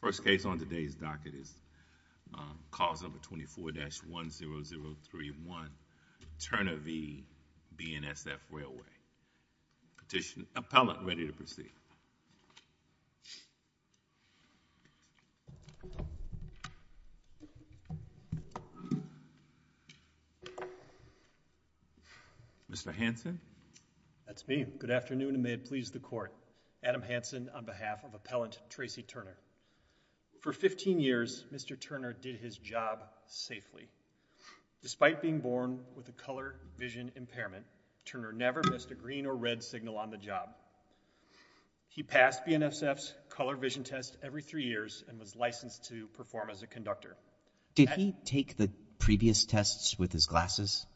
First case on today's docket is cause number 24-10031, Turner v. BNSF Railway. Petitioner, appellant, ready to proceed. Mr. Hanson? That's me. Good afternoon and may it please the court. Adam Hanson on behalf of appellant Tracy Turner. For 15 years, Mr. Turner did his job safely. Despite being born with a color vision impairment, Turner never missed a green or red signal on the job. He passed BNSF's color vision test every three years and was licensed to perform as a conductor. Did he take the previous tests with his glasses?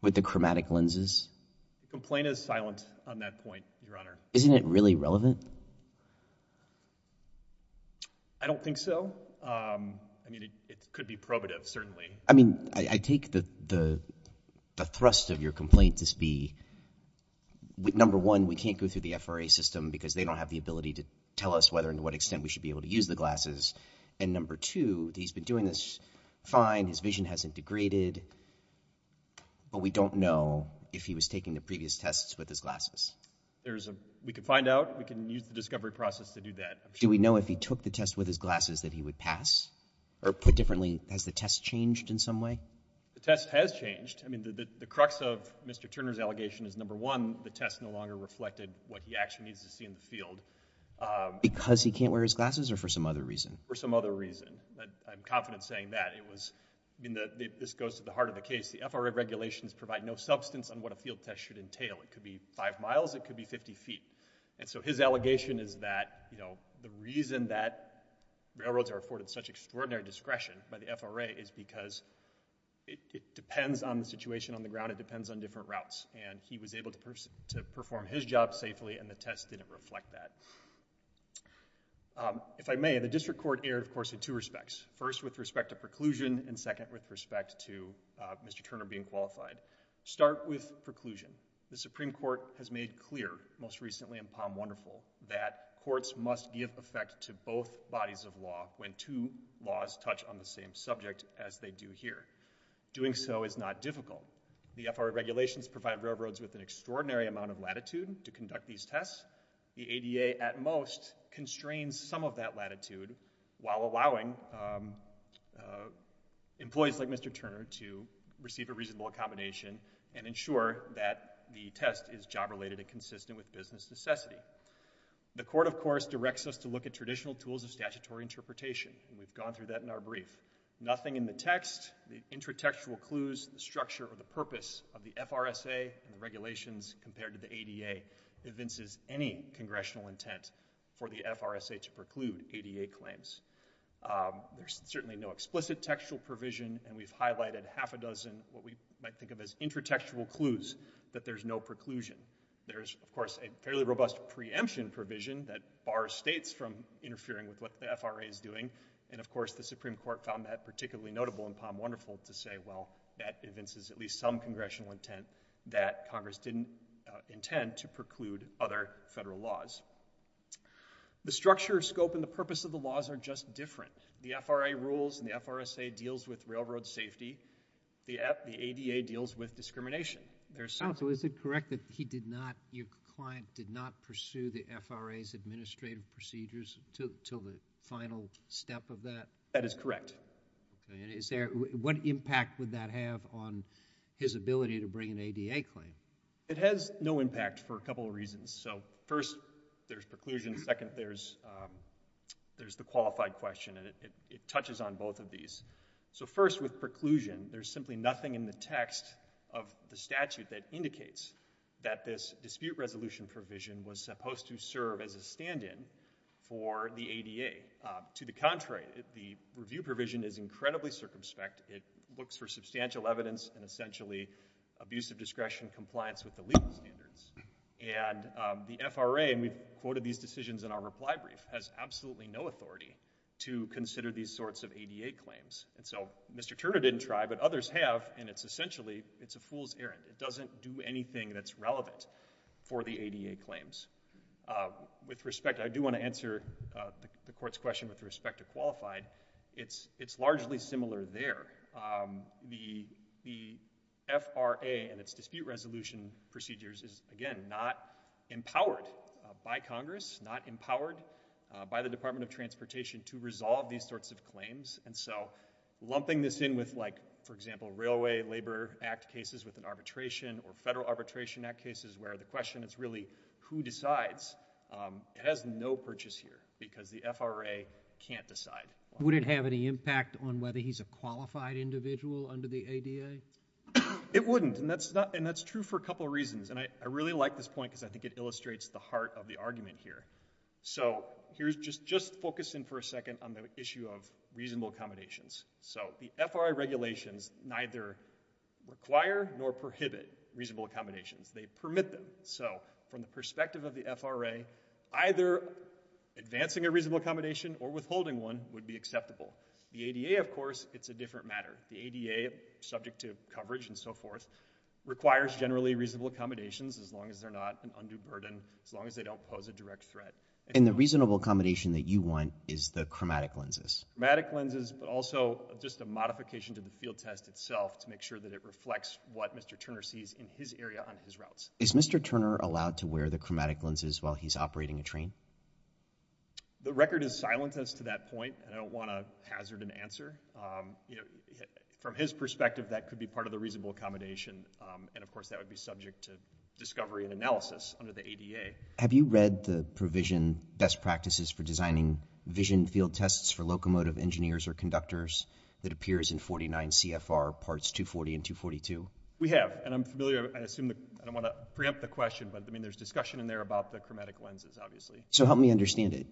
With the chromatic lenses? The complaint is silent on that point, your honor. Isn't it really relevant? I don't think so. I mean, it could be probative, certainly. I mean, I take the thrust of your complaint to be number one, we can't go through the FRA system because they don't have the ability to tell us whether and to what extent we should be able to use the glasses, and number two, he's been doing this fine, his vision hasn't degraded, but we don't know if he was taking the previous tests with his glasses. We can find out, we can use the discovery process to do that. Do we know if he took the test with his glasses that he would pass? Or put differently, has the test changed in some way? The test has changed. I mean, the crux of Mr. Turner's allegation is number one, the test no longer reflected what he actually needs to see in the field. Because he can't wear his glasses or for some other reason? For some other reason. I'm confident saying that. I mean, this goes to the heart of the case. The FRA regulations provide no substance on what a field test should entail. It could be five miles, it could be 50 feet. And so his allegation is that, you know, the reason that railroads are afforded such extraordinary discretion by the FRA is because it depends on the situation on the ground, it depends on different routes. And he was able to perform his job safely and the test didn't reflect that. If I may, the district court erred, of course, in two respects. First, with respect to preclusion. And second, with respect to Mr. Turner being qualified. Start with preclusion. The Supreme Court has made clear, most recently in Palm Wonderful, that courts must give effect to both bodies of law when two laws touch on the same subject as they do here. Doing so is not difficult. The FRA regulations provide railroads with an extraordinary amount of latitude to conduct these tests. The ADA, at most, constrains some of that latitude while allowing employees like Mr. Turner to receive a reasonable accommodation and ensure that the test is job-related and consistent with business necessity. The court, of course, directs us to look at traditional tools of statutory interpretation. We've gone through that in our brief. Nothing in the text, the intratextual clues, the structure, or the purpose of the FRSA and the regulations compared to the ADA convinces any congressional intent for the FRSA to preclude ADA claims. There's certainly no explicit textual provision, and we've highlighted half a dozen what we might think of as intratextual clues that there's no preclusion. There's, of course, a fairly robust preemption provision that bars states from interfering with what the FRA is doing. And, of course, the Supreme Court found that particularly notable in Palm Wonderful to say, well, that convinces at least some congressional intent that Congress didn't intend to preclude other federal laws. The structure, scope, and the purpose of the laws are just different. The FRA rules and the FRSA deals with railroad safety. The ADA deals with discrimination. Counsel, is it correct that he did not, your client, did not pursue the FRA's administrative procedures until the final step of that? That is correct. Okay, and what impact would that have on his ability to bring an ADA claim? It has no impact for a couple of reasons. So, first, there's preclusion. Second, there's the qualified question, and it touches on both of these. So, first, with preclusion, there's simply nothing in the text of the statute that indicates that this dispute resolution provision was supposed to serve as a stand-in for the ADA. To the contrary, the review provision is incredibly circumspect. It looks for substantial evidence and, essentially, abuse of discretion, compliance with the legal standards. And the FRA, and we've quoted these decisions in our reply brief, has absolutely no authority to consider these sorts of ADA claims. And so Mr. Turner didn't try, but others have, and it's essentially, it's a fool's errand. It doesn't do anything that's relevant for the ADA claims. With respect, I do want to answer the court's question with respect to qualified. It's largely similar there. The FRA and its dispute resolution procedures is, again, not empowered by Congress, not empowered by the Department of Transportation to resolve these sorts of claims. And so lumping this in with, like, for example, Railway Labor Act cases with an arbitration or Federal Arbitration Act cases where the question is really who decides, it has no purchase here because the FRA can't decide. Would it have any impact on whether he's a qualified individual under the ADA? It wouldn't, and that's true for a couple of reasons. And I really like this point because I think it illustrates the heart of the argument here. So just focus in for a second on the issue of reasonable accommodations. So the FRA regulations neither require nor prohibit reasonable accommodations. They permit them. So from the perspective of the FRA, either advancing a reasonable accommodation or withholding one would be acceptable. The ADA, of course, it's a different matter. The ADA, subject to coverage and so forth, requires generally reasonable accommodations as long as they're not an undue burden, as long as they don't pose a direct threat. And the reasonable accommodation that you want is the chromatic lenses. Chromatic lenses, but also just a modification to the field test itself to make sure that it reflects what Mr. Turner sees in his area on his routes. Is Mr. Turner allowed to wear the chromatic lenses while he's operating a train? The record is silent as to that point, and I don't want to hazard an answer. You know, from his perspective, that could be part of the reasonable accommodation, and, of course, that would be subject to discovery and analysis under the ADA. Have you read the provision Best Practices for Designing Vision Field Tests for Locomotive Engineers or Conductors that appears in 49 CFR parts 240 and 242? We have, and I'm familiar... I don't want to preempt the question, but, I mean, there's discussion in there about the chromatic lenses, obviously. So help me understand it.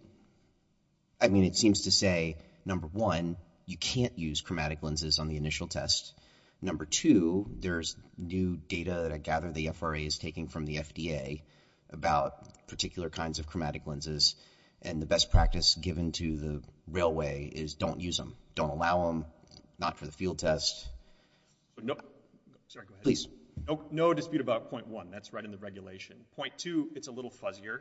I mean, it seems to say, number one, you can't use chromatic lenses on the initial test. Number two, there's new data that I gather the FRA is taking from the FDA about particular kinds of chromatic lenses, and the best practice given to the railway is don't use them. Don't allow them, not for the field test. No... Sorry, go ahead. Please. No dispute about point one. That's right in the regulation. Point two, it's a little fuzzier,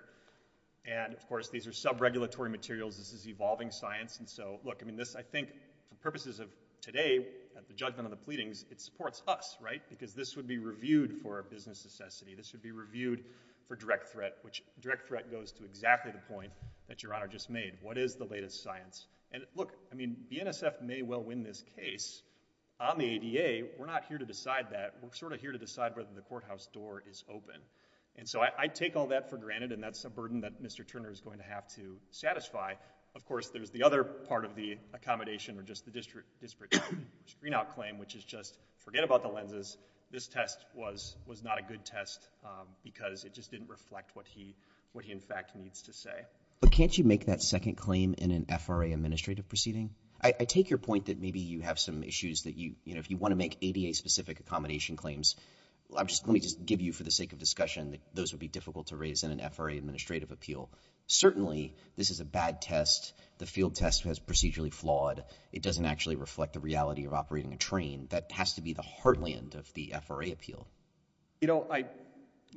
and, of course, these are sub-regulatory materials. This is evolving science, and so, look, I mean, this, I think, for purposes of today, at the judgment of the pleadings, it supports us, right? Because this would be reviewed for business necessity. This would be reviewed for direct threat, which direct threat goes to exactly the point that Your Honor just made. What is the latest science? And, look, I mean, BNSF may well win this case. On the ADA, we're not here to decide that. We're sort of here to decide whether the courthouse door is open. And so I take all that for granted, and that's a burden that Mr. Turner is going to have to satisfy. Of course, there's the other part of the accommodation or just the district screen-out claim, which is just forget about the lenses. This test was not a good test because it just didn't reflect what he, in fact, needs to say. But can't you make that second claim in an FRA administrative proceeding? I take your point that maybe you have some issues that you, you know, if you want to make ADA-specific accommodation claims, let me just give you, for the sake of discussion, that those would be difficult to raise in an FRA administrative appeal. Certainly, this is a bad test. The field test was procedurally flawed. It doesn't actually reflect the reality of operating a train. That has to be the heartland of the FRA appeal. You know,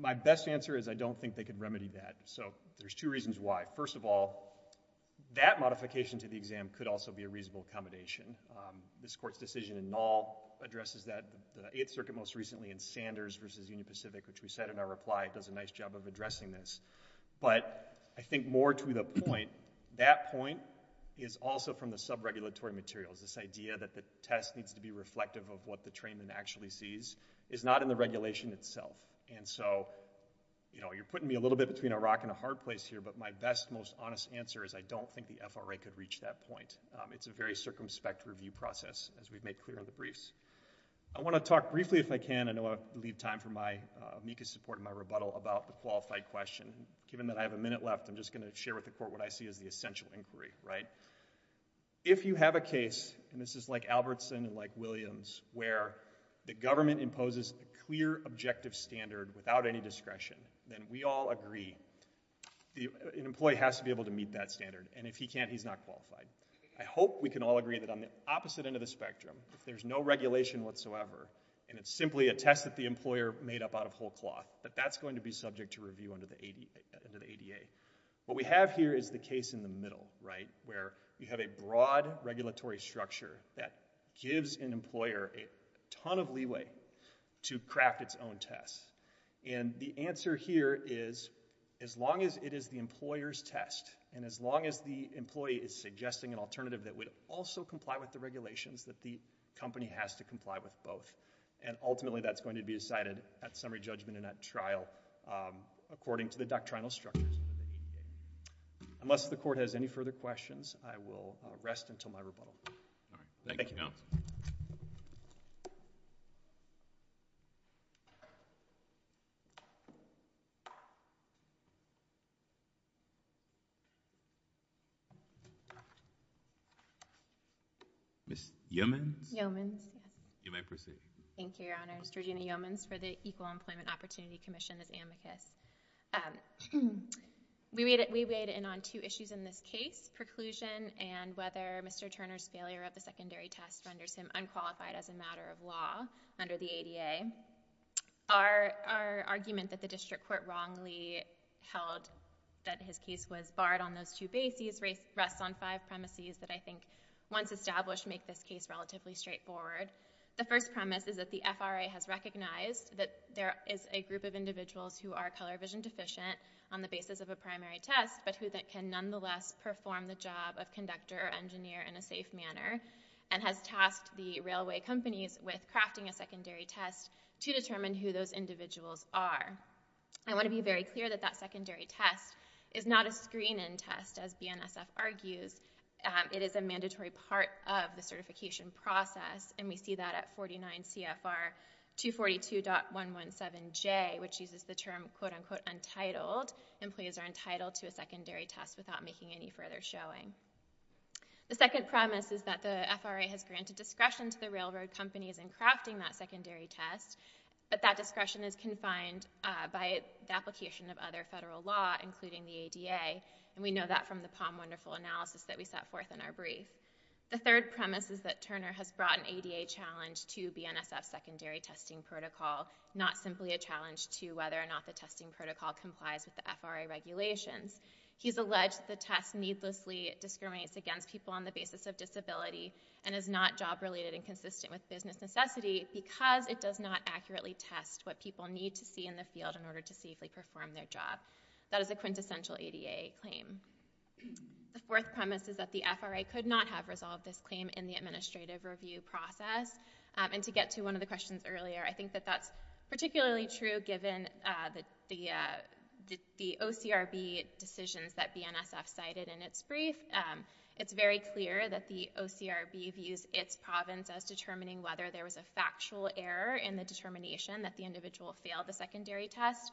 my best answer is I don't think they could remedy that. So there's two reasons why. First of all, that modification to the exam could also be a reasonable accommodation. This Court's decision in Null addresses that. The Eighth Circuit most recently in Sanders v. Union Pacific, which we said in our reply, does a nice job of addressing this. But I think more to the point, that point is also from the subregulatory materials. This idea that the test needs to be reflective of what the trainman actually sees is not in the regulation itself. And so, you know, you're putting me a little bit between a rock and a hard place here, but my best, most honest answer is I don't think the FRA could reach that point. It's a very circumspect review process, as we've made clear in the briefs. I want to talk briefly, if I can. I know I'll leave time for my amicus support and my rebuttal about the qualified question. Given that I have a minute left, I'm just going to share with the Court what I see as the essential inquiry, right? If you have a case, and this is like Albertson and like Williams, where the government imposes a clear, objective standard without any discretion, then we all agree an employee has to be able to meet that standard, and if he can't, he's not qualified. I hope we can all agree that on the opposite end of the spectrum, if there's no regulation whatsoever, and it's simply a test that the employer made up out of whole cloth, that that's going to be subject to review under the ADA. What we have here is the case in the middle, right, where you have a broad regulatory structure that gives an employer a ton of leeway to craft its own test, and the answer here is, as long as it is the employer's test, and as long as the employee is suggesting an alternative that would also comply with the regulations, that the company has to comply with both, and ultimately that's going to be decided at summary judgment and at trial, according to the doctrinal structures of the ADA. Unless the Court has any further questions, I will rest until my rebuttal. All right. Thank you. Thank you, counsel. Ms. Yeomans? Yeomans. You may proceed. Thank you, Your Honor. Ms. Georgina Yeomans for the Equal Employment Opportunity Commission, as amicus. We weighed in on two issues in this case, preclusion and whether Mr. Turner's failure of the secondary test renders him unqualified as a matter of law under the ADA. Our argument that the district court wrongly held that his case was barred on those two bases rests on five premises that I think, once established, make this case relatively straightforward. The first premise is that the FRA has recognized that there is a group of individuals who are color vision deficient on the basis of a primary test, but who can nonetheless perform the job of conductor or engineer in a safe manner, and has tasked the railway companies with crafting a secondary test to determine who those individuals are. I want to be very clear that that secondary test is not a screen-in test, as BNSF argues. It is a mandatory part of the certification process, and we see that at 49 CFR 242.117J, which uses the term, quote-unquote, untitled. Employees are entitled to a secondary test without making any further showing. The second premise is that the FRA has granted discretion to the railroad companies in crafting that secondary test, but that discretion is confined by the application of other federal law, including the ADA, and we know that from the POM wonderful analysis that we set forth in our brief. The third premise is that Turner has brought an ADA challenge to BNSF's secondary testing protocol, not simply a challenge to whether or not the testing protocol complies with the FRA regulations. He's alleged that the test needlessly discriminates against people on the basis of disability and is not job-related and consistent with business necessity because it does not accurately test what people need to see in the field in order to safely perform their job. That is a quintessential ADA claim. The fourth premise is that the FRA could not have resolved this claim in the administrative review process, and to get to one of the questions earlier, I think that that's particularly true given the OCRB decisions that BNSF cited in its brief. It's very clear that the OCRB views its province as determining whether there was a factual error in the determination that the individual failed the secondary test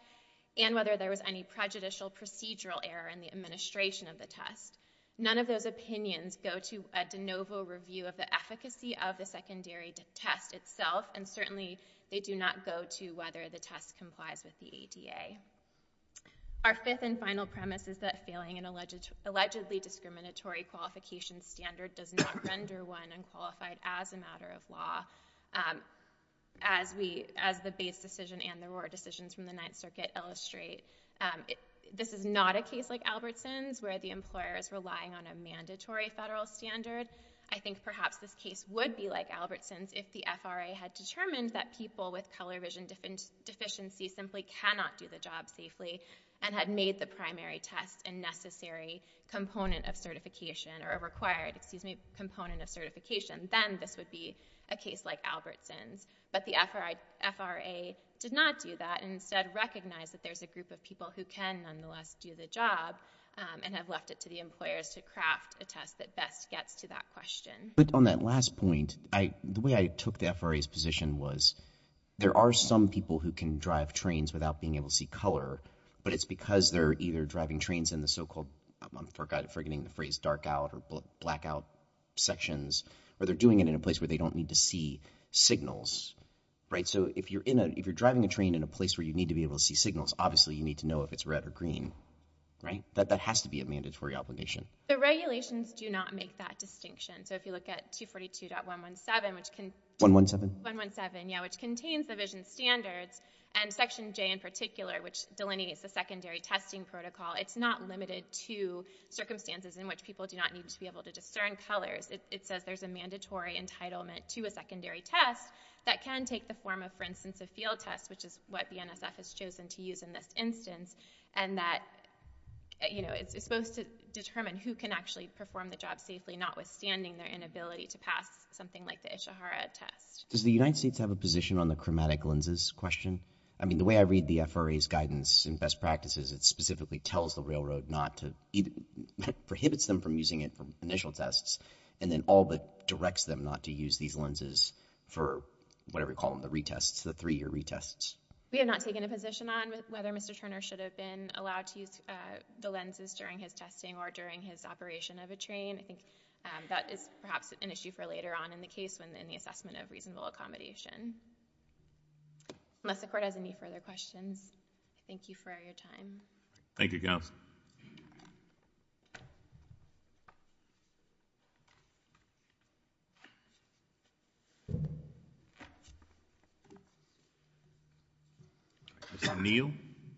and whether there was any prejudicial procedural error in the administration of the test. None of those opinions go to a de novo review of the efficacy of the secondary test itself, and certainly they do not go to whether the test complies with the ADA. Our fifth and final premise is that failing an allegedly discriminatory qualification standard does not render one unqualified as a matter of law, as the BASE decision and the Roar decisions from the Ninth Circuit illustrate. This is not a case like Albertson's, where the employer is relying on a mandatory federal standard. I think perhaps this case would be like Albertson's if the FRA had determined that people with color vision deficiencies simply cannot do the job safely and had made the primary test a necessary component of certification, or a required component of certification. Then this would be a case like Albertson's. But the FRA did not do that and instead recognized that there's a group of people who can nonetheless do the job and have left it to the employers to craft a test that best gets to that question. But on that last point, the way I took the FRA's position was there are some people who can drive trains without being able to see color, but it's because they're either driving trains in the so-called, I'm forgetting the phrase, dark out or black out sections, or they're doing it in a place where they don't need to see signals. So if you're driving a train in a place where you need to be able to see signals, obviously you need to know if it's red or green. That has to be a mandatory obligation. The regulations do not make that distinction. So if you look at 242.117, which contains the vision standards and section J in particular, which delineates the secondary testing protocol, it's not limited to circumstances in which people do not need to be able to discern colors. It says there's a mandatory entitlement to a secondary test that can take the form of, for instance, a field test, which is what BNSF has chosen to use in this instance, and that it's supposed to determine who can actually perform the job safely, notwithstanding their inability to pass something like the Ishihara test. Does the United States have a position on the chromatic lenses question? I mean, the way I read the FRA's guidance in best practices, it specifically tells the railroad not to, prohibits them from using it for initial tests, and then all but directs them not to use these lenses for whatever you call them, the retests, the three-year retests. We have not taken a position on whether Mr. Turner should have been allowed to use the lenses during his testing or during his operation of a train. I think that is perhaps an issue for later on in the case when in the assessment of reasonable accommodation. Unless the court has any further questions, I thank you for your time. Thank you, counsel. Mr. Neal?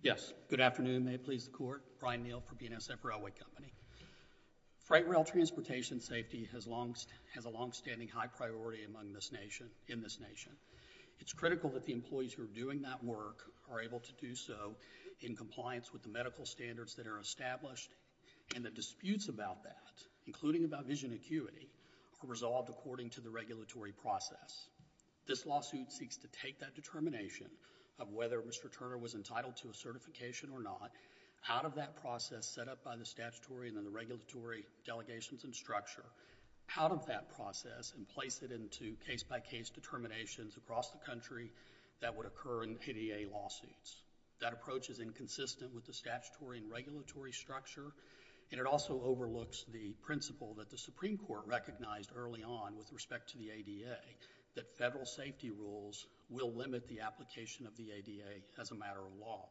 Yes. Good afternoon. May it please the court. Brian Neal for BNSF Railway Company. Freight rail transportation safety has a longstanding high priority in this nation. It's critical that the employees who are doing that work are able to do so in compliance with the medical standards that are established, and the disputes about that, including about vision acuity, are resolved according to the regulatory process. This lawsuit seeks to take that determination of whether Mr. Turner was entitled to a certification or not out of that process set up by the statutory and the regulatory delegations and structure, out of that process, and place it into case-by-case determinations across the country that would occur in ADA lawsuits. That approach is inconsistent with the statutory and regulatory structure, and it also overlooks the principle that the Supreme Court recognized early on with respect to the ADA, that federal safety rules will limit the application of the ADA as a matter of law.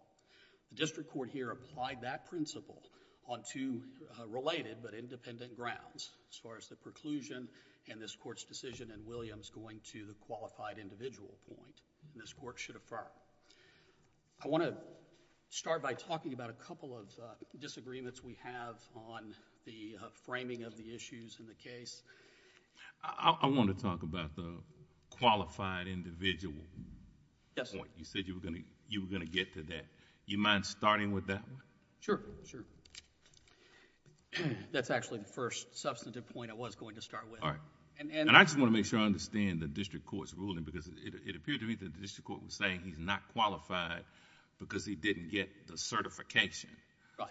The district court here applied that principle on two related but independent grounds as far as the preclusion and this court's decision in Williams going to the qualified individual point this court should affirm. I want to start by talking about a couple of disagreements we have on the framing of the issues in the case. I want to talk about the qualified individual point. You said you were going to get to that. Do you mind starting with that one? Sure, sure. That's actually the first substantive point I was going to start with. I just want to make sure I understand the district court's ruling because it appeared to me that the district court was saying he's not qualified because he didn't get the certification.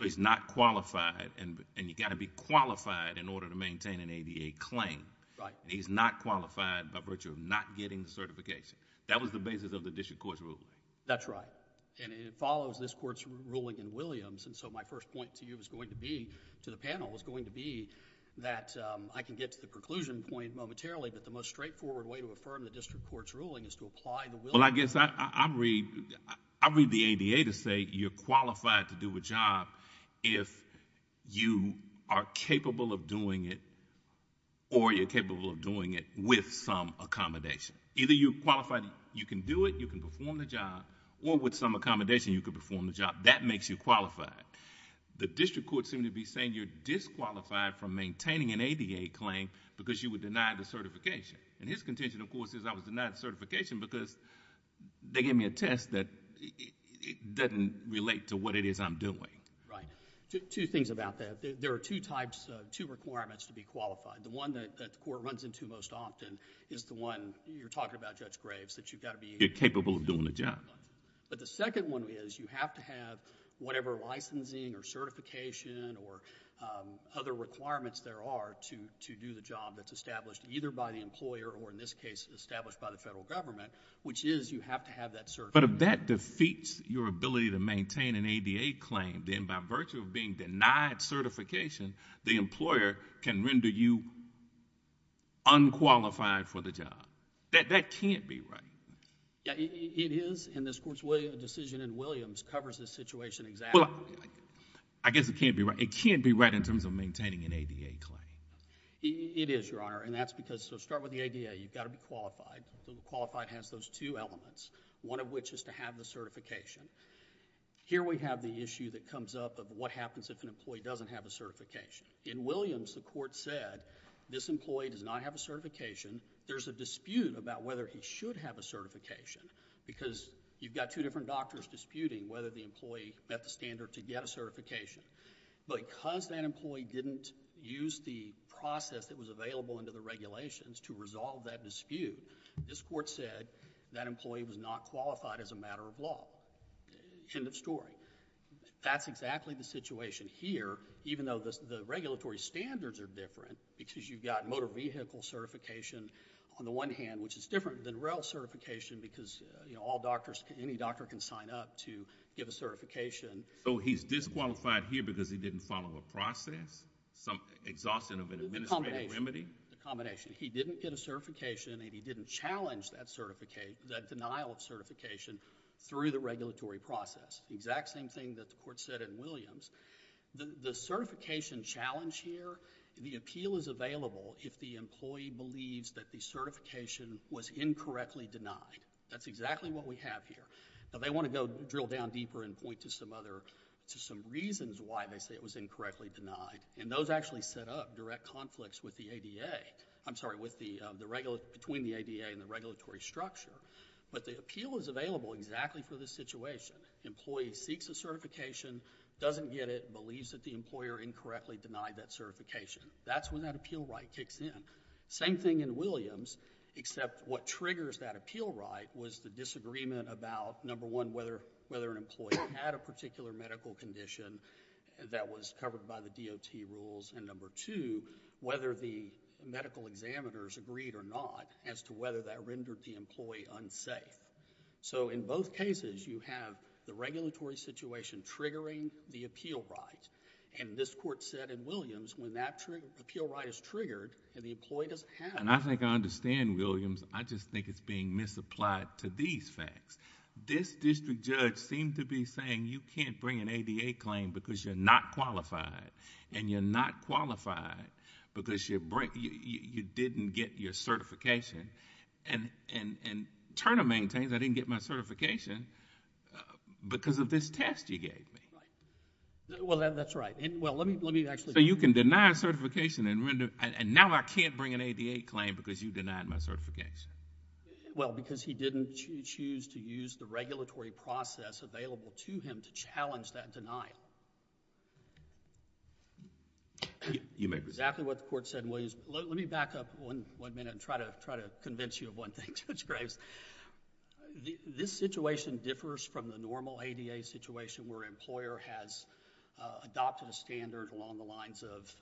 He's not qualified, and you've got to be qualified in order to maintain an ADA claim. He's not qualified by virtue of not getting the certification. That was the basis of the district court's ruling. That's right, and it follows this court's ruling in Williams. My first point to you is going to be, to the panel, is going to be that I can get to the preclusion point momentarily, but the most straightforward way to affirm the district court's ruling is to apply the Williams rule. I read the ADA to say you're qualified to do a job if you are capable of doing it or you're capable of doing it with some accommodation. Either you're qualified, you can do it, you can perform the job, or with some accommodation, you can perform the job. That makes you qualified. The district court seemed to be saying you're disqualified from maintaining an ADA claim because you were denied the certification. His contention, of course, is I was denied the certification because they gave me a test that doesn't relate to what it is I'm doing. Right. Two things about that. There are two requirements to be qualified. The one that the court runs into most often is the one you're talking about, Judge Graves, that you've got to be... You're capable of doing the job. The second one is you have to have whatever licensing or certification or other requirements there are to do the job that's established either by the employer or, in this case, established by the federal government, which is you have to have that certification. But if that defeats your ability to maintain an ADA claim, then by virtue of being denied certification, the employer can render you unqualified for the job. That can't be right. It is, and this court's decision in Williams covers this situation exactly. I guess it can't be right. It can't be right in terms of maintaining an ADA claim. It is, Your Honor, and that's because... So start with the ADA. You've got to be qualified. Qualified has those two elements, one of which is to have the certification. Here we have the issue that comes up of what happens if an employee doesn't have a certification. In Williams, the court said this employee does not have a certification. There's a dispute about whether he should have a certification because you've got two different doctors disputing whether the employee met the standard to get a certification. Because that employee didn't use the process that was available under the regulations to resolve that dispute, this court said that employee was not qualified as a matter of law. End of story. That's exactly the situation here, even though the regulatory standards are different because you've got motor vehicle certification on the one hand, which is different than rail certification because any doctor can sign up to give a certification. So he's disqualified here because he didn't follow a process? Exhaustion of an administrative remedy? The combination. He didn't get a certification and he didn't challenge that denial of certification through the regulatory process. The exact same thing that the court said in Williams. The certification challenge here, the appeal is available if the employee believes that the certification was incorrectly denied. That's exactly what we have here. Now they want to go drill down deeper and point to some reasons why they say it was incorrectly denied, and those actually set up direct conflicts with the ADA. I'm sorry, between the ADA and the regulatory structure. But the appeal is available exactly for this situation. Employee seeks a certification, doesn't get it, believes that the employer incorrectly denied that certification. That's when that appeal right kicks in. Same thing in Williams, except what triggers that appeal right was the disagreement about, number one, whether an employee had a particular medical condition that was covered by the DOT rules, and number two, whether the medical examiners agreed or not as to whether that rendered the employee unsafe. In both cases, you have the regulatory situation triggering the appeal right. This court said in Williams when that appeal right is triggered and the employee doesn't have it... I think I understand Williams. I just think it's being misapplied to these facts. This district judge seemed to be saying you can't bring an ADA claim because you're not qualified, and you're not qualified because you didn't get your certification. And Turner maintains I didn't get my certification because of this test you gave me. Well, that's right. Well, let me actually... So you can deny a certification and now I can't bring an ADA claim because you denied my certification. Well, because he didn't choose to use the regulatory process available to him to challenge that denial. You may proceed. Exactly what the court said in Williams. Let me back up one minute and try to convince you of one thing, Judge Graves. This situation differs from the normal ADA situation where an employer has adopted a standard along the lines of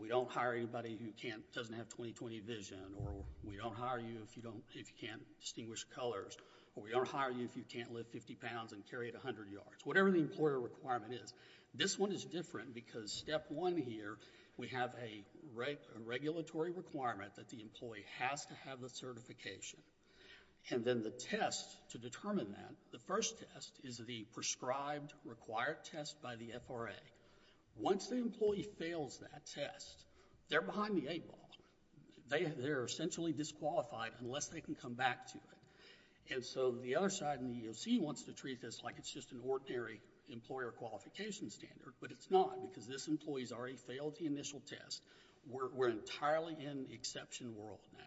we don't hire anybody who doesn't have 20-20 vision, or we don't hire you if you can't distinguish colors, or we don't hire you if you can't lift 50 pounds and carry it 100 yards, whatever the employer requirement is. This one is different because step one here, we have a regulatory requirement that the employee has to have the certification. And then the test to determine that, the first test is the prescribed required test by the FRA. Once the employee fails that test, they're behind the eight ball. They're essentially disqualified unless they can come back to it. And so the other side in the EEOC wants to treat this like it's just an ordinary employer qualification standard, but it's not because this employee has already failed the initial test. We're entirely in the exception world now.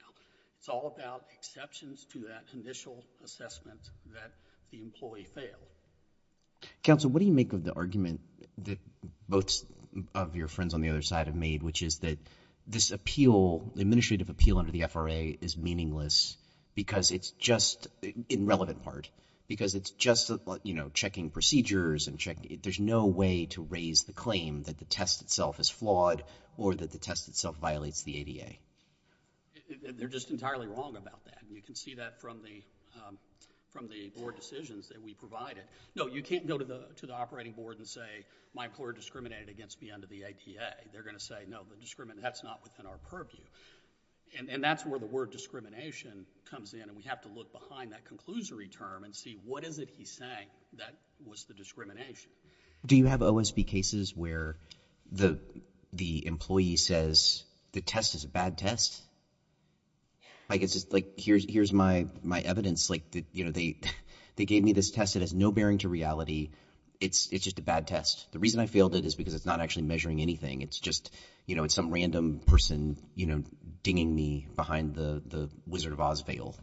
It's all about exceptions to that initial assessment that the employee failed. Counsel, what do you make of the argument that both of your friends on the other side have made, which is that this administrative appeal under the FRA is meaningless because it's just in relevant part, because it's just checking procedures. There's no way to raise the claim that the test itself is flawed or that the test itself violates the ADA. They're just entirely wrong about that. You can see that from the board decisions that we provided. No, you can't go to the operating board and say my employer discriminated against me under the ADA. They're going to say, no, that's not within our purview. And that's where the word discrimination comes in, and we have to look behind that conclusory term and see what is it he's saying that was the discrimination. Do you have OSB cases where the employee says the test is a bad test? Like here's my evidence. They gave me this test that has no bearing to reality. It's just a bad test. The reason I failed it is because it's not actually measuring anything. It's just, you know, it's some random person, you know, dinging me behind the Wizard of Oz veil.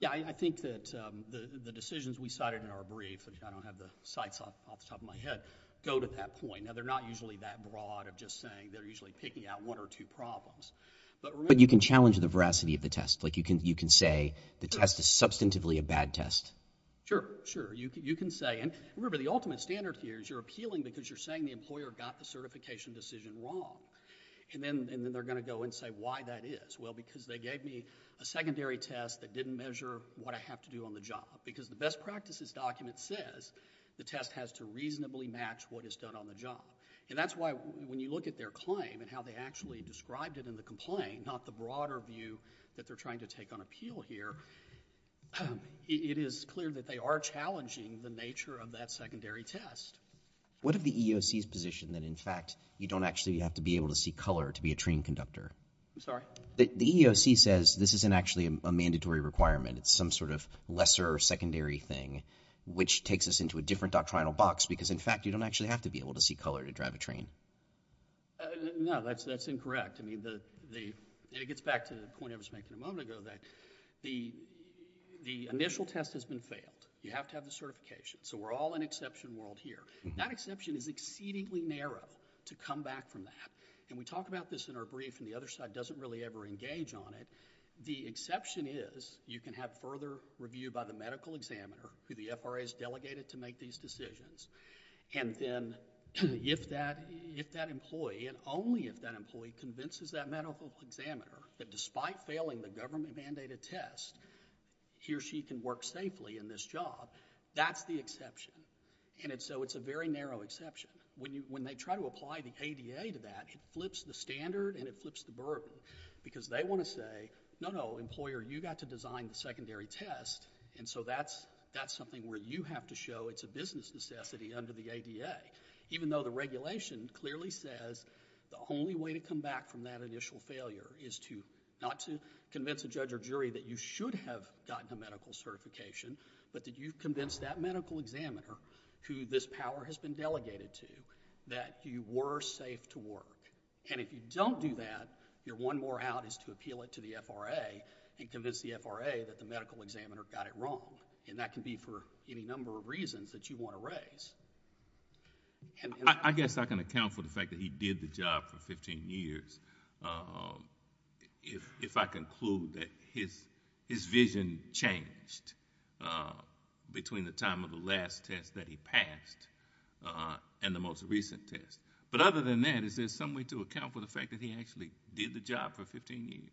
Yeah, I think that the decisions we cited in our brief, I don't have the sites off the top of my head, go to that point. Now, they're not usually that broad of just saying they're usually picking out one or two problems. But you can challenge the veracity of the test. Like you can say the test is substantively a bad test. Sure, sure. You can say, and remember, the ultimate standard here is you're appealing because you're saying the employer got the certification decision wrong. And then they're going to go and say why that is. Well, because they gave me a secondary test that didn't measure what I have to do on the job. Because the best practices document says the test has to reasonably match what is done on the job. And that's why when you look at their claim and how they actually described it in the complaint, not the broader view that they're trying to take on appeal here, it is clear that they are challenging the nature of that secondary test. What of the EEOC's position that in fact you don't actually have to be able to see color to be a train conductor? I'm sorry? The EEOC says this isn't actually a mandatory requirement. It's some sort of lesser or secondary thing, which takes us into a different doctrinal box because in fact you don't actually have to be able to see color to drive a train. No, that's incorrect. It gets back to the point I was making a moment ago that the initial test has been failed. You have to have the certification. So we're all in exception world here. That exception is exceedingly narrow to come back from that. And we talk about this in our brief and the other side doesn't really ever engage on it. The exception is you can have further review by the medical examiner, who the FRA has delegated to make these decisions. And then if that employee, and only if that employee convinces that medical examiner that despite failing the government-mandated test, he or she can work safely in this job, that's the exception. And so it's a very narrow exception. When they try to apply the ADA to that, it flips the standard and it flips the burden because they want to say, no, no, employer, you got to design the secondary test, and so that's something where you have to show it's a business necessity under the ADA, even though the regulation clearly says the only way to come back from that initial failure is not to convince a judge or jury that you should have gotten a medical certification, but that you've convinced that medical examiner, who this power has been delegated to, that you were safe to work. And if you don't do that, your one more out is to appeal it to the FRA and convince the FRA that the medical examiner got it wrong. And that can be for any number of reasons that you want to raise. I guess I can account for the fact that he did the job for fifteen years. If I conclude that his vision changed between the time of the last test that he passed and the most recent test. But other than that, is there some way to account for the fact that he actually did the job for fifteen years?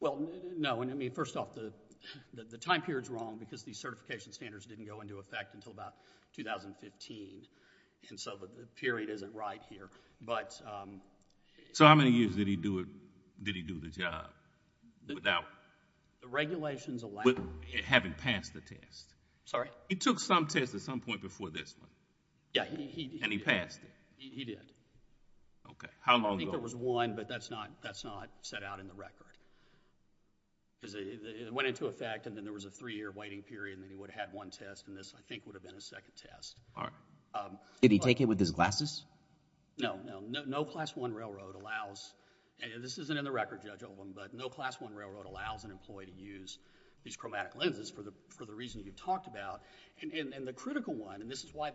Well, no. I mean, first off, the time period's wrong because the certification standards didn't go into effect until about 2015, and so the period isn't right here. So how many years did he do the job without having passed the test? Sorry? He took some tests at some point before this one. Yeah, he did. And he passed it. He did. Okay, how long ago? I think there was one, but that's not set out in the record. It went into effect, and then there was a three-year waiting period, and then he would have had one test, and this, I think, would have been his second test. Did he take it with his glasses? No, no. No class one railroad allows... and this isn't in the record, Judge Oldham, but no class one railroad allows an employee to use these chromatic lenses for the reasons you've talked about. And the critical one, and this is why...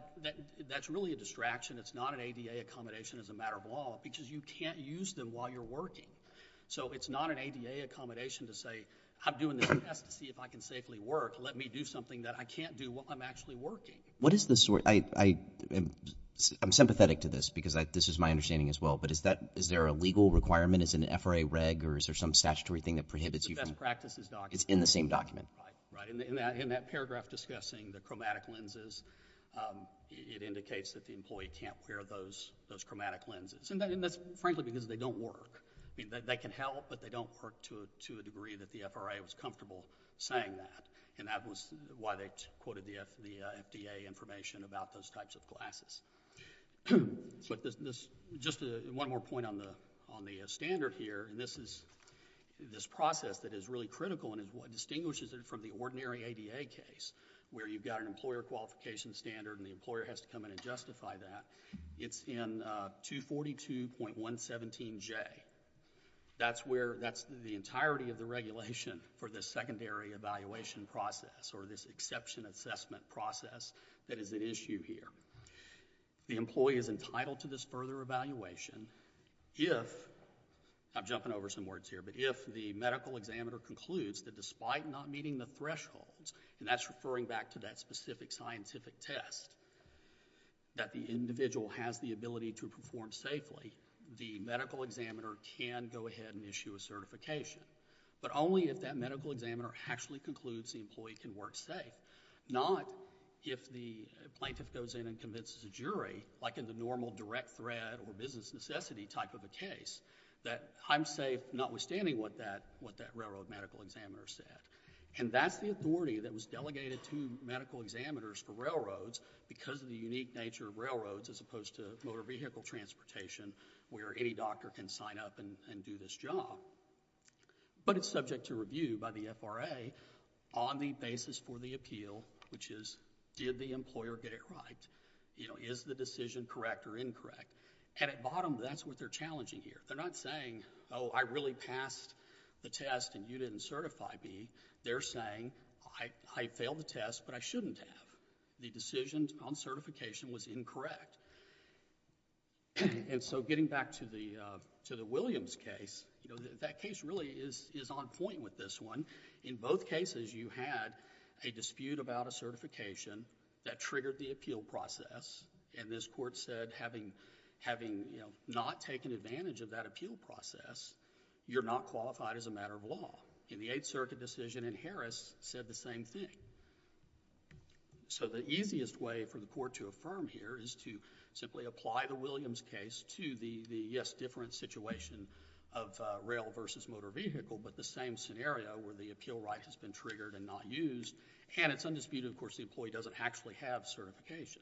that's really a distraction. It's not an ADA accommodation as a matter of law because you can't use them while you're working. So it's not an ADA accommodation to say, I'm doing this test to see if I can safely work. Let me do something that I can't do while I'm actually working. What is the... I'm sympathetic to this because this is my understanding as well, but is there a legal requirement? Is it an FRA reg, or is there some statutory thing that prohibits you from... The best practices document. It's in the same document. Right, right. In that paragraph discussing the chromatic lenses, it indicates that the employee can't wear those chromatic lenses, and that's, frankly, because they don't work. I mean, they can help, but they don't work to a degree that the FRA was comfortable saying that, and that was why they quoted the FDA information about those types of glasses. Just one more point on the standard here, and this process that is really critical and is what distinguishes it from the ordinary ADA case where you've got an employer qualification standard and the employer has to come in and justify that. It's in 242.117J. That's the entirety of the regulation for the secondary evaluation process or this exception assessment process that is at issue here. The employee is entitled to this further evaluation if... I'm jumping over some words here, but if the medical examiner concludes that despite not meeting the thresholds, and that's referring back to that specific scientific test, that the individual has the ability to perform safely, the medical examiner can go ahead and issue a certification, but only if that medical examiner actually concludes the employee can work safe, not if the plaintiff goes in and convinces the jury, like in the normal direct threat or business necessity type of a case, that I'm safe notwithstanding what that railroad medical examiner said. That's the authority that was delegated to medical examiners for railroads because of the unique nature of railroads as opposed to motor vehicle transportation where any doctor can sign up and do this job. It's subject to review by the FRA on the basis for the appeal, which is, did the employer get it right? Is the decision correct or incorrect? At bottom, that's what they're challenging here. They're not saying, oh, I really passed the test and you didn't certify me. They're saying, I failed the test, but I shouldn't have. The decision on certification was incorrect. Getting back to the Williams case, that case really is on point with this one. In both cases, you had a dispute about a certification that triggered the appeal process. This court said, having not taken advantage of that appeal process, you're not qualified as a matter of law. In the Eighth Circuit decision in Harris, said the same thing. The easiest way for the court to affirm here is to simply apply the Williams case to the, yes, different situation of rail versus motor vehicle, but the same scenario where the appeal right has been triggered and not used. It's undisputed, of course, the employee doesn't actually have certification.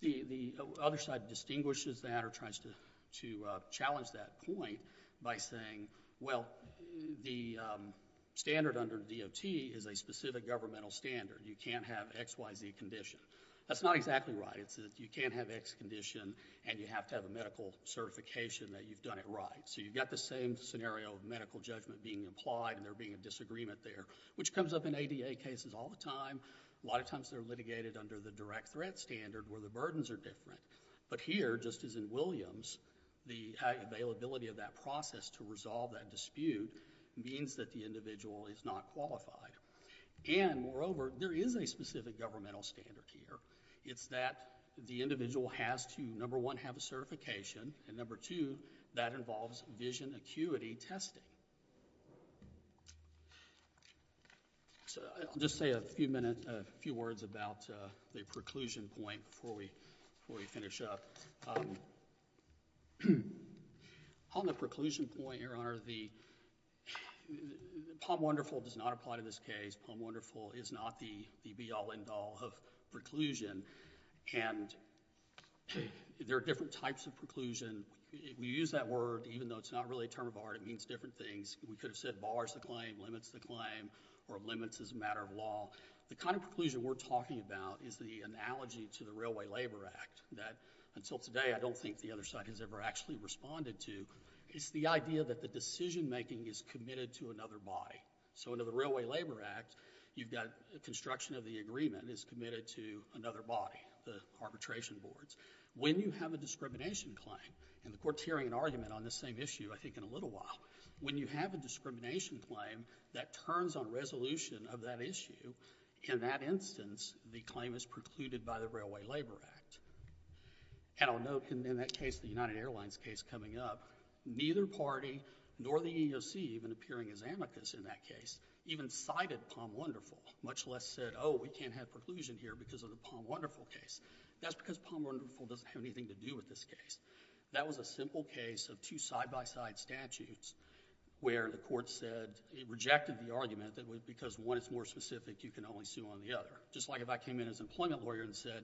The other side distinguishes that or tries to challenge that point by saying, well, the standard under DOT is a specific governmental standard. You can't have X, Y, Z condition. That's not exactly right. It's that you can't have X condition and you have to have a medical certification that you've done it right. You've got the same scenario of medical judgment being applied and there being a disagreement there, which comes up in ADA cases all the time. A lot of times they're litigated under the direct threat standard where the burdens are different. Here, just as in Williams, the availability of that process to resolve that dispute means that the individual is not qualified. Moreover, there is a specific governmental standard here. It's that the individual has to, number one, have a certification, and number two, that involves vision acuity testing. I'll just say a few words about the preclusion point before we finish up. On the preclusion point, Your Honor, the POM Wonderful does not apply to this case. POM Wonderful is not the be-all, end-all of preclusion. And there are different types of preclusion. We use that word, even though it's not really a term of art. It means different things. We could have said bars the claim, limits the claim, or limits as a matter of law. The kind of preclusion we're talking about is the analogy to the Railway Labor Act that, until today, I don't think the other side has ever actually responded to. It's the idea that the decision-making is committed to another body. So under the Railway Labor Act, you've got construction of the agreement is committed to another body, the arbitration boards. When you have a discrimination claim, and the Court's hearing an argument on this same issue, I think, in a little while, when you have a discrimination claim that turns on resolution of that issue, in that instance, the claim is precluded by the Railway Labor Act. And I'll note in that case, the United Airlines case coming up, neither party nor the EEOC, even appearing as amicus in that case, even cited Palm Wonderful, much less said, oh, we can't have preclusion here because of the Palm Wonderful case. That's because Palm Wonderful doesn't have anything to do with this case. That was a simple case of two side-by-side statutes where the Court said it rejected the argument that because one is more specific, you can only sue on the other. Just like if I came in as an employment lawyer and said,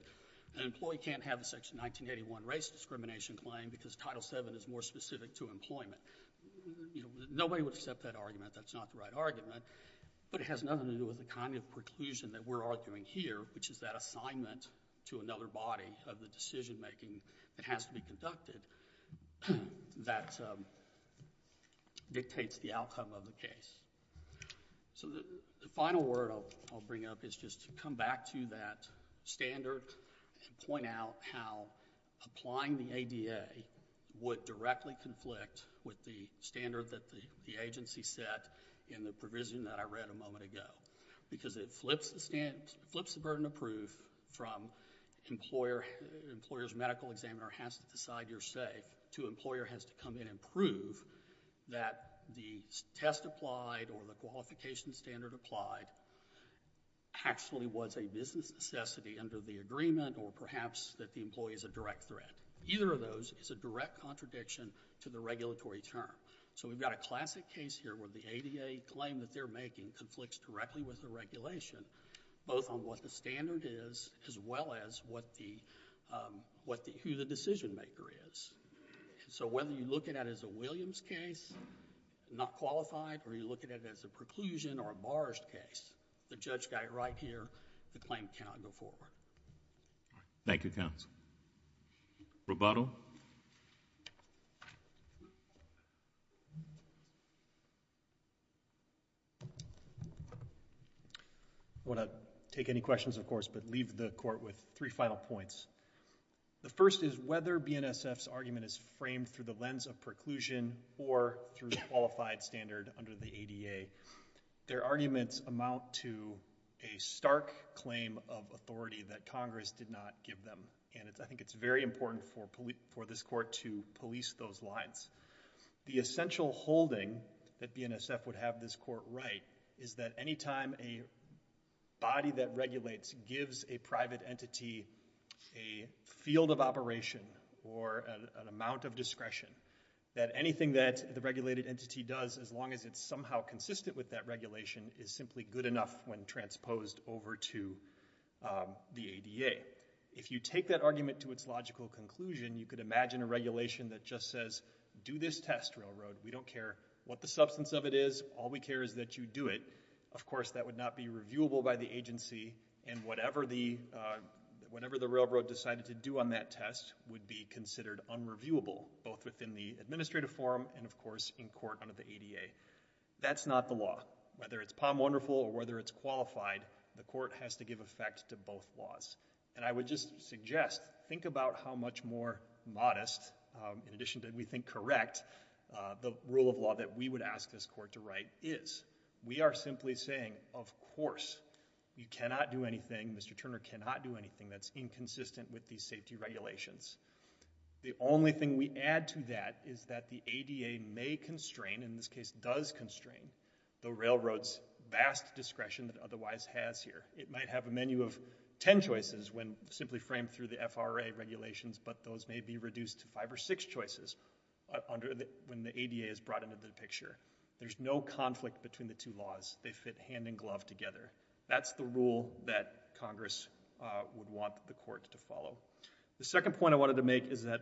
an employee can't have a Section 1981 race discrimination claim because Title VII is more specific to employment. Nobody would accept that argument. That's not the right argument. But it has nothing to do with the kind of preclusion that we're arguing here, which is that assignment to another body of the decision-making that has to be conducted that dictates the outcome of the case. The final word I'll bring up is just to come back to that standard and point out how applying the ADA would directly conflict with the standard that the agency set in the provision that I read a moment ago because it flips the burden of proof from employer's medical examiner has to decide you're safe to employer has to come in and prove that the test applied or the qualification standard applied actually was a business necessity under the agreement or perhaps that the employee is a direct threat. Either of those is a direct contradiction to the regulatory term. So we've got a classic case here where the ADA claim that they're making conflicts directly with the regulation, both on what the standard is as well as who the decision-maker is. So whether you look at it as a Williams case, not qualified, or you look at it as a preclusion or a barge case, the judge got it right here, the claim cannot go forward. Thank you, counsel. Roboto. I want to take any questions, of course, but leave the court with three final points. The first is whether BNSF's argument is framed through the lens of preclusion or through the qualified standard under the ADA. Their arguments amount to a stark claim of authority that Congress did not give them, and I think it's very important for this court to police those lines. The essential holding that BNSF would have this court right is that any time a body that regulates gives a private entity a field of operation or an amount of discretion, that anything that the regulated entity does, as long as it's somehow consistent with that regulation, is simply good enough when transposed over to the ADA. If you take that argument to its logical conclusion, you could imagine a regulation that just says, do this test, Railroad. We don't care what the substance of it is. All we care is that you do it. Of course, that would not be reviewable by the agency, and whatever the Railroad decided to do on that test would be considered unreviewable, both within the administrative forum and, of course, in court under the ADA. That's not the law. Whether it's POM Wonderful or whether it's qualified, the court has to give effect to both laws. And I would just suggest, think about how much more modest, in addition to, we think, correct, the rule of law that we would ask this court to write is. We are simply saying, of course, you cannot do anything, Mr. Turner cannot do anything that's inconsistent with these safety regulations. The only thing we add to that is that the ADA may constrain, in this case does constrain, the Railroad's vast discretion that it otherwise has here. It might have a menu of ten choices when simply framed through the FRA regulations, but those may be reduced to five or six choices when the ADA is brought into the picture. There's no conflict between the two laws. They fit hand-in-glove together. That's the rule that Congress would want the court to follow. The second point I wanted to make is that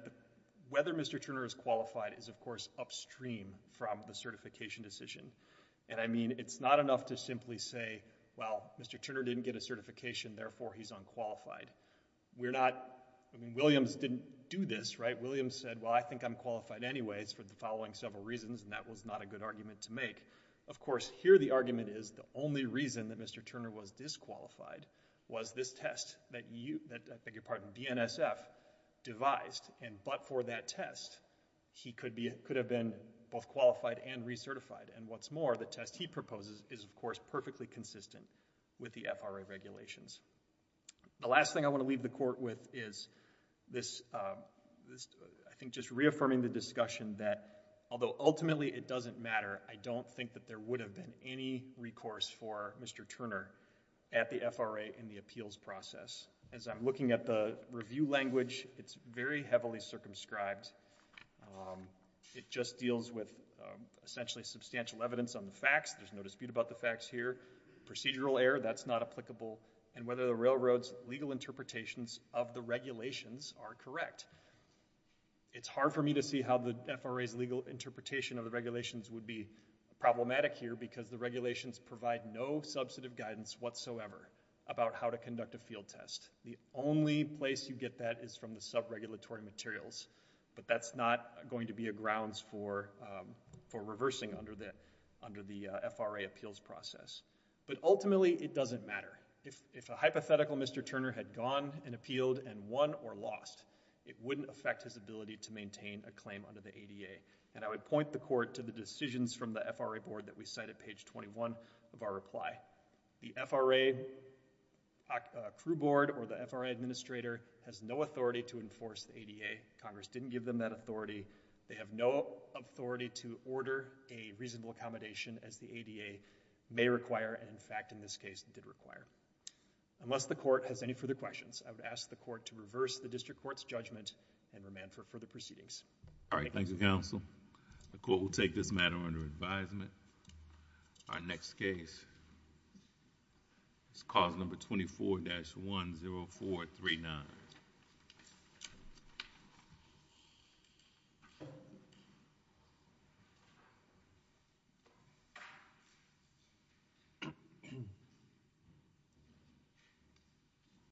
whether Mr. Turner is qualified is, of course, upstream from the certification decision. And, I mean, it's not enough to simply say, well, Mr. Turner didn't get a certification, therefore he's unqualified. We're not... I mean, Williams didn't do this, right? Williams said, well, I think I'm qualified anyways for the following several reasons, and that was not a good argument to make. Of course, here the argument is the only reason that Mr. Turner was disqualified was this test that you... that, I beg your pardon, BNSF devised. And but for that test, he could have been both qualified and recertified. And what's more, the test he proposes is, of course, perfectly consistent with the FRA regulations. The last thing I want to leave the court with is this, I think, just reaffirming the discussion that although ultimately it doesn't matter, I don't think that there would have been any recourse for Mr. Turner at the FRA in the appeals process. As I'm looking at the review language, it's very heavily circumscribed. It just deals with, essentially, substantial evidence on the facts. There's no dispute about the facts here. Procedural error, that's not applicable. And whether the railroad's legal interpretations of the regulations are correct. It's hard for me to see how the FRA's legal interpretation of the regulations would be problematic here, because the regulations provide no substantive guidance whatsoever about how to conduct a field test. The only place you get that is from the sub-regulatory materials. But that's not going to be a grounds for reversing under the FRA appeals process. But ultimately, it doesn't matter. If a hypothetical Mr. Turner had gone and appealed and won or lost, it wouldn't affect his ability to maintain a claim under the ADA. And I would point the court to the decisions from the FRA board that we cite at page 21 of our reply. The FRA crew board or the FRA administrator has no authority to enforce the ADA. Congress didn't give them that authority. They have no authority to order a reasonable accommodation, as the ADA may require, and in fact, in this case, did require. Unless the court has any further questions, I would ask the court to reverse the district court's judgment and remand for further proceedings. All right, thank you, counsel. The court will take this matter under advisement. Our next case is cause number 24-10439.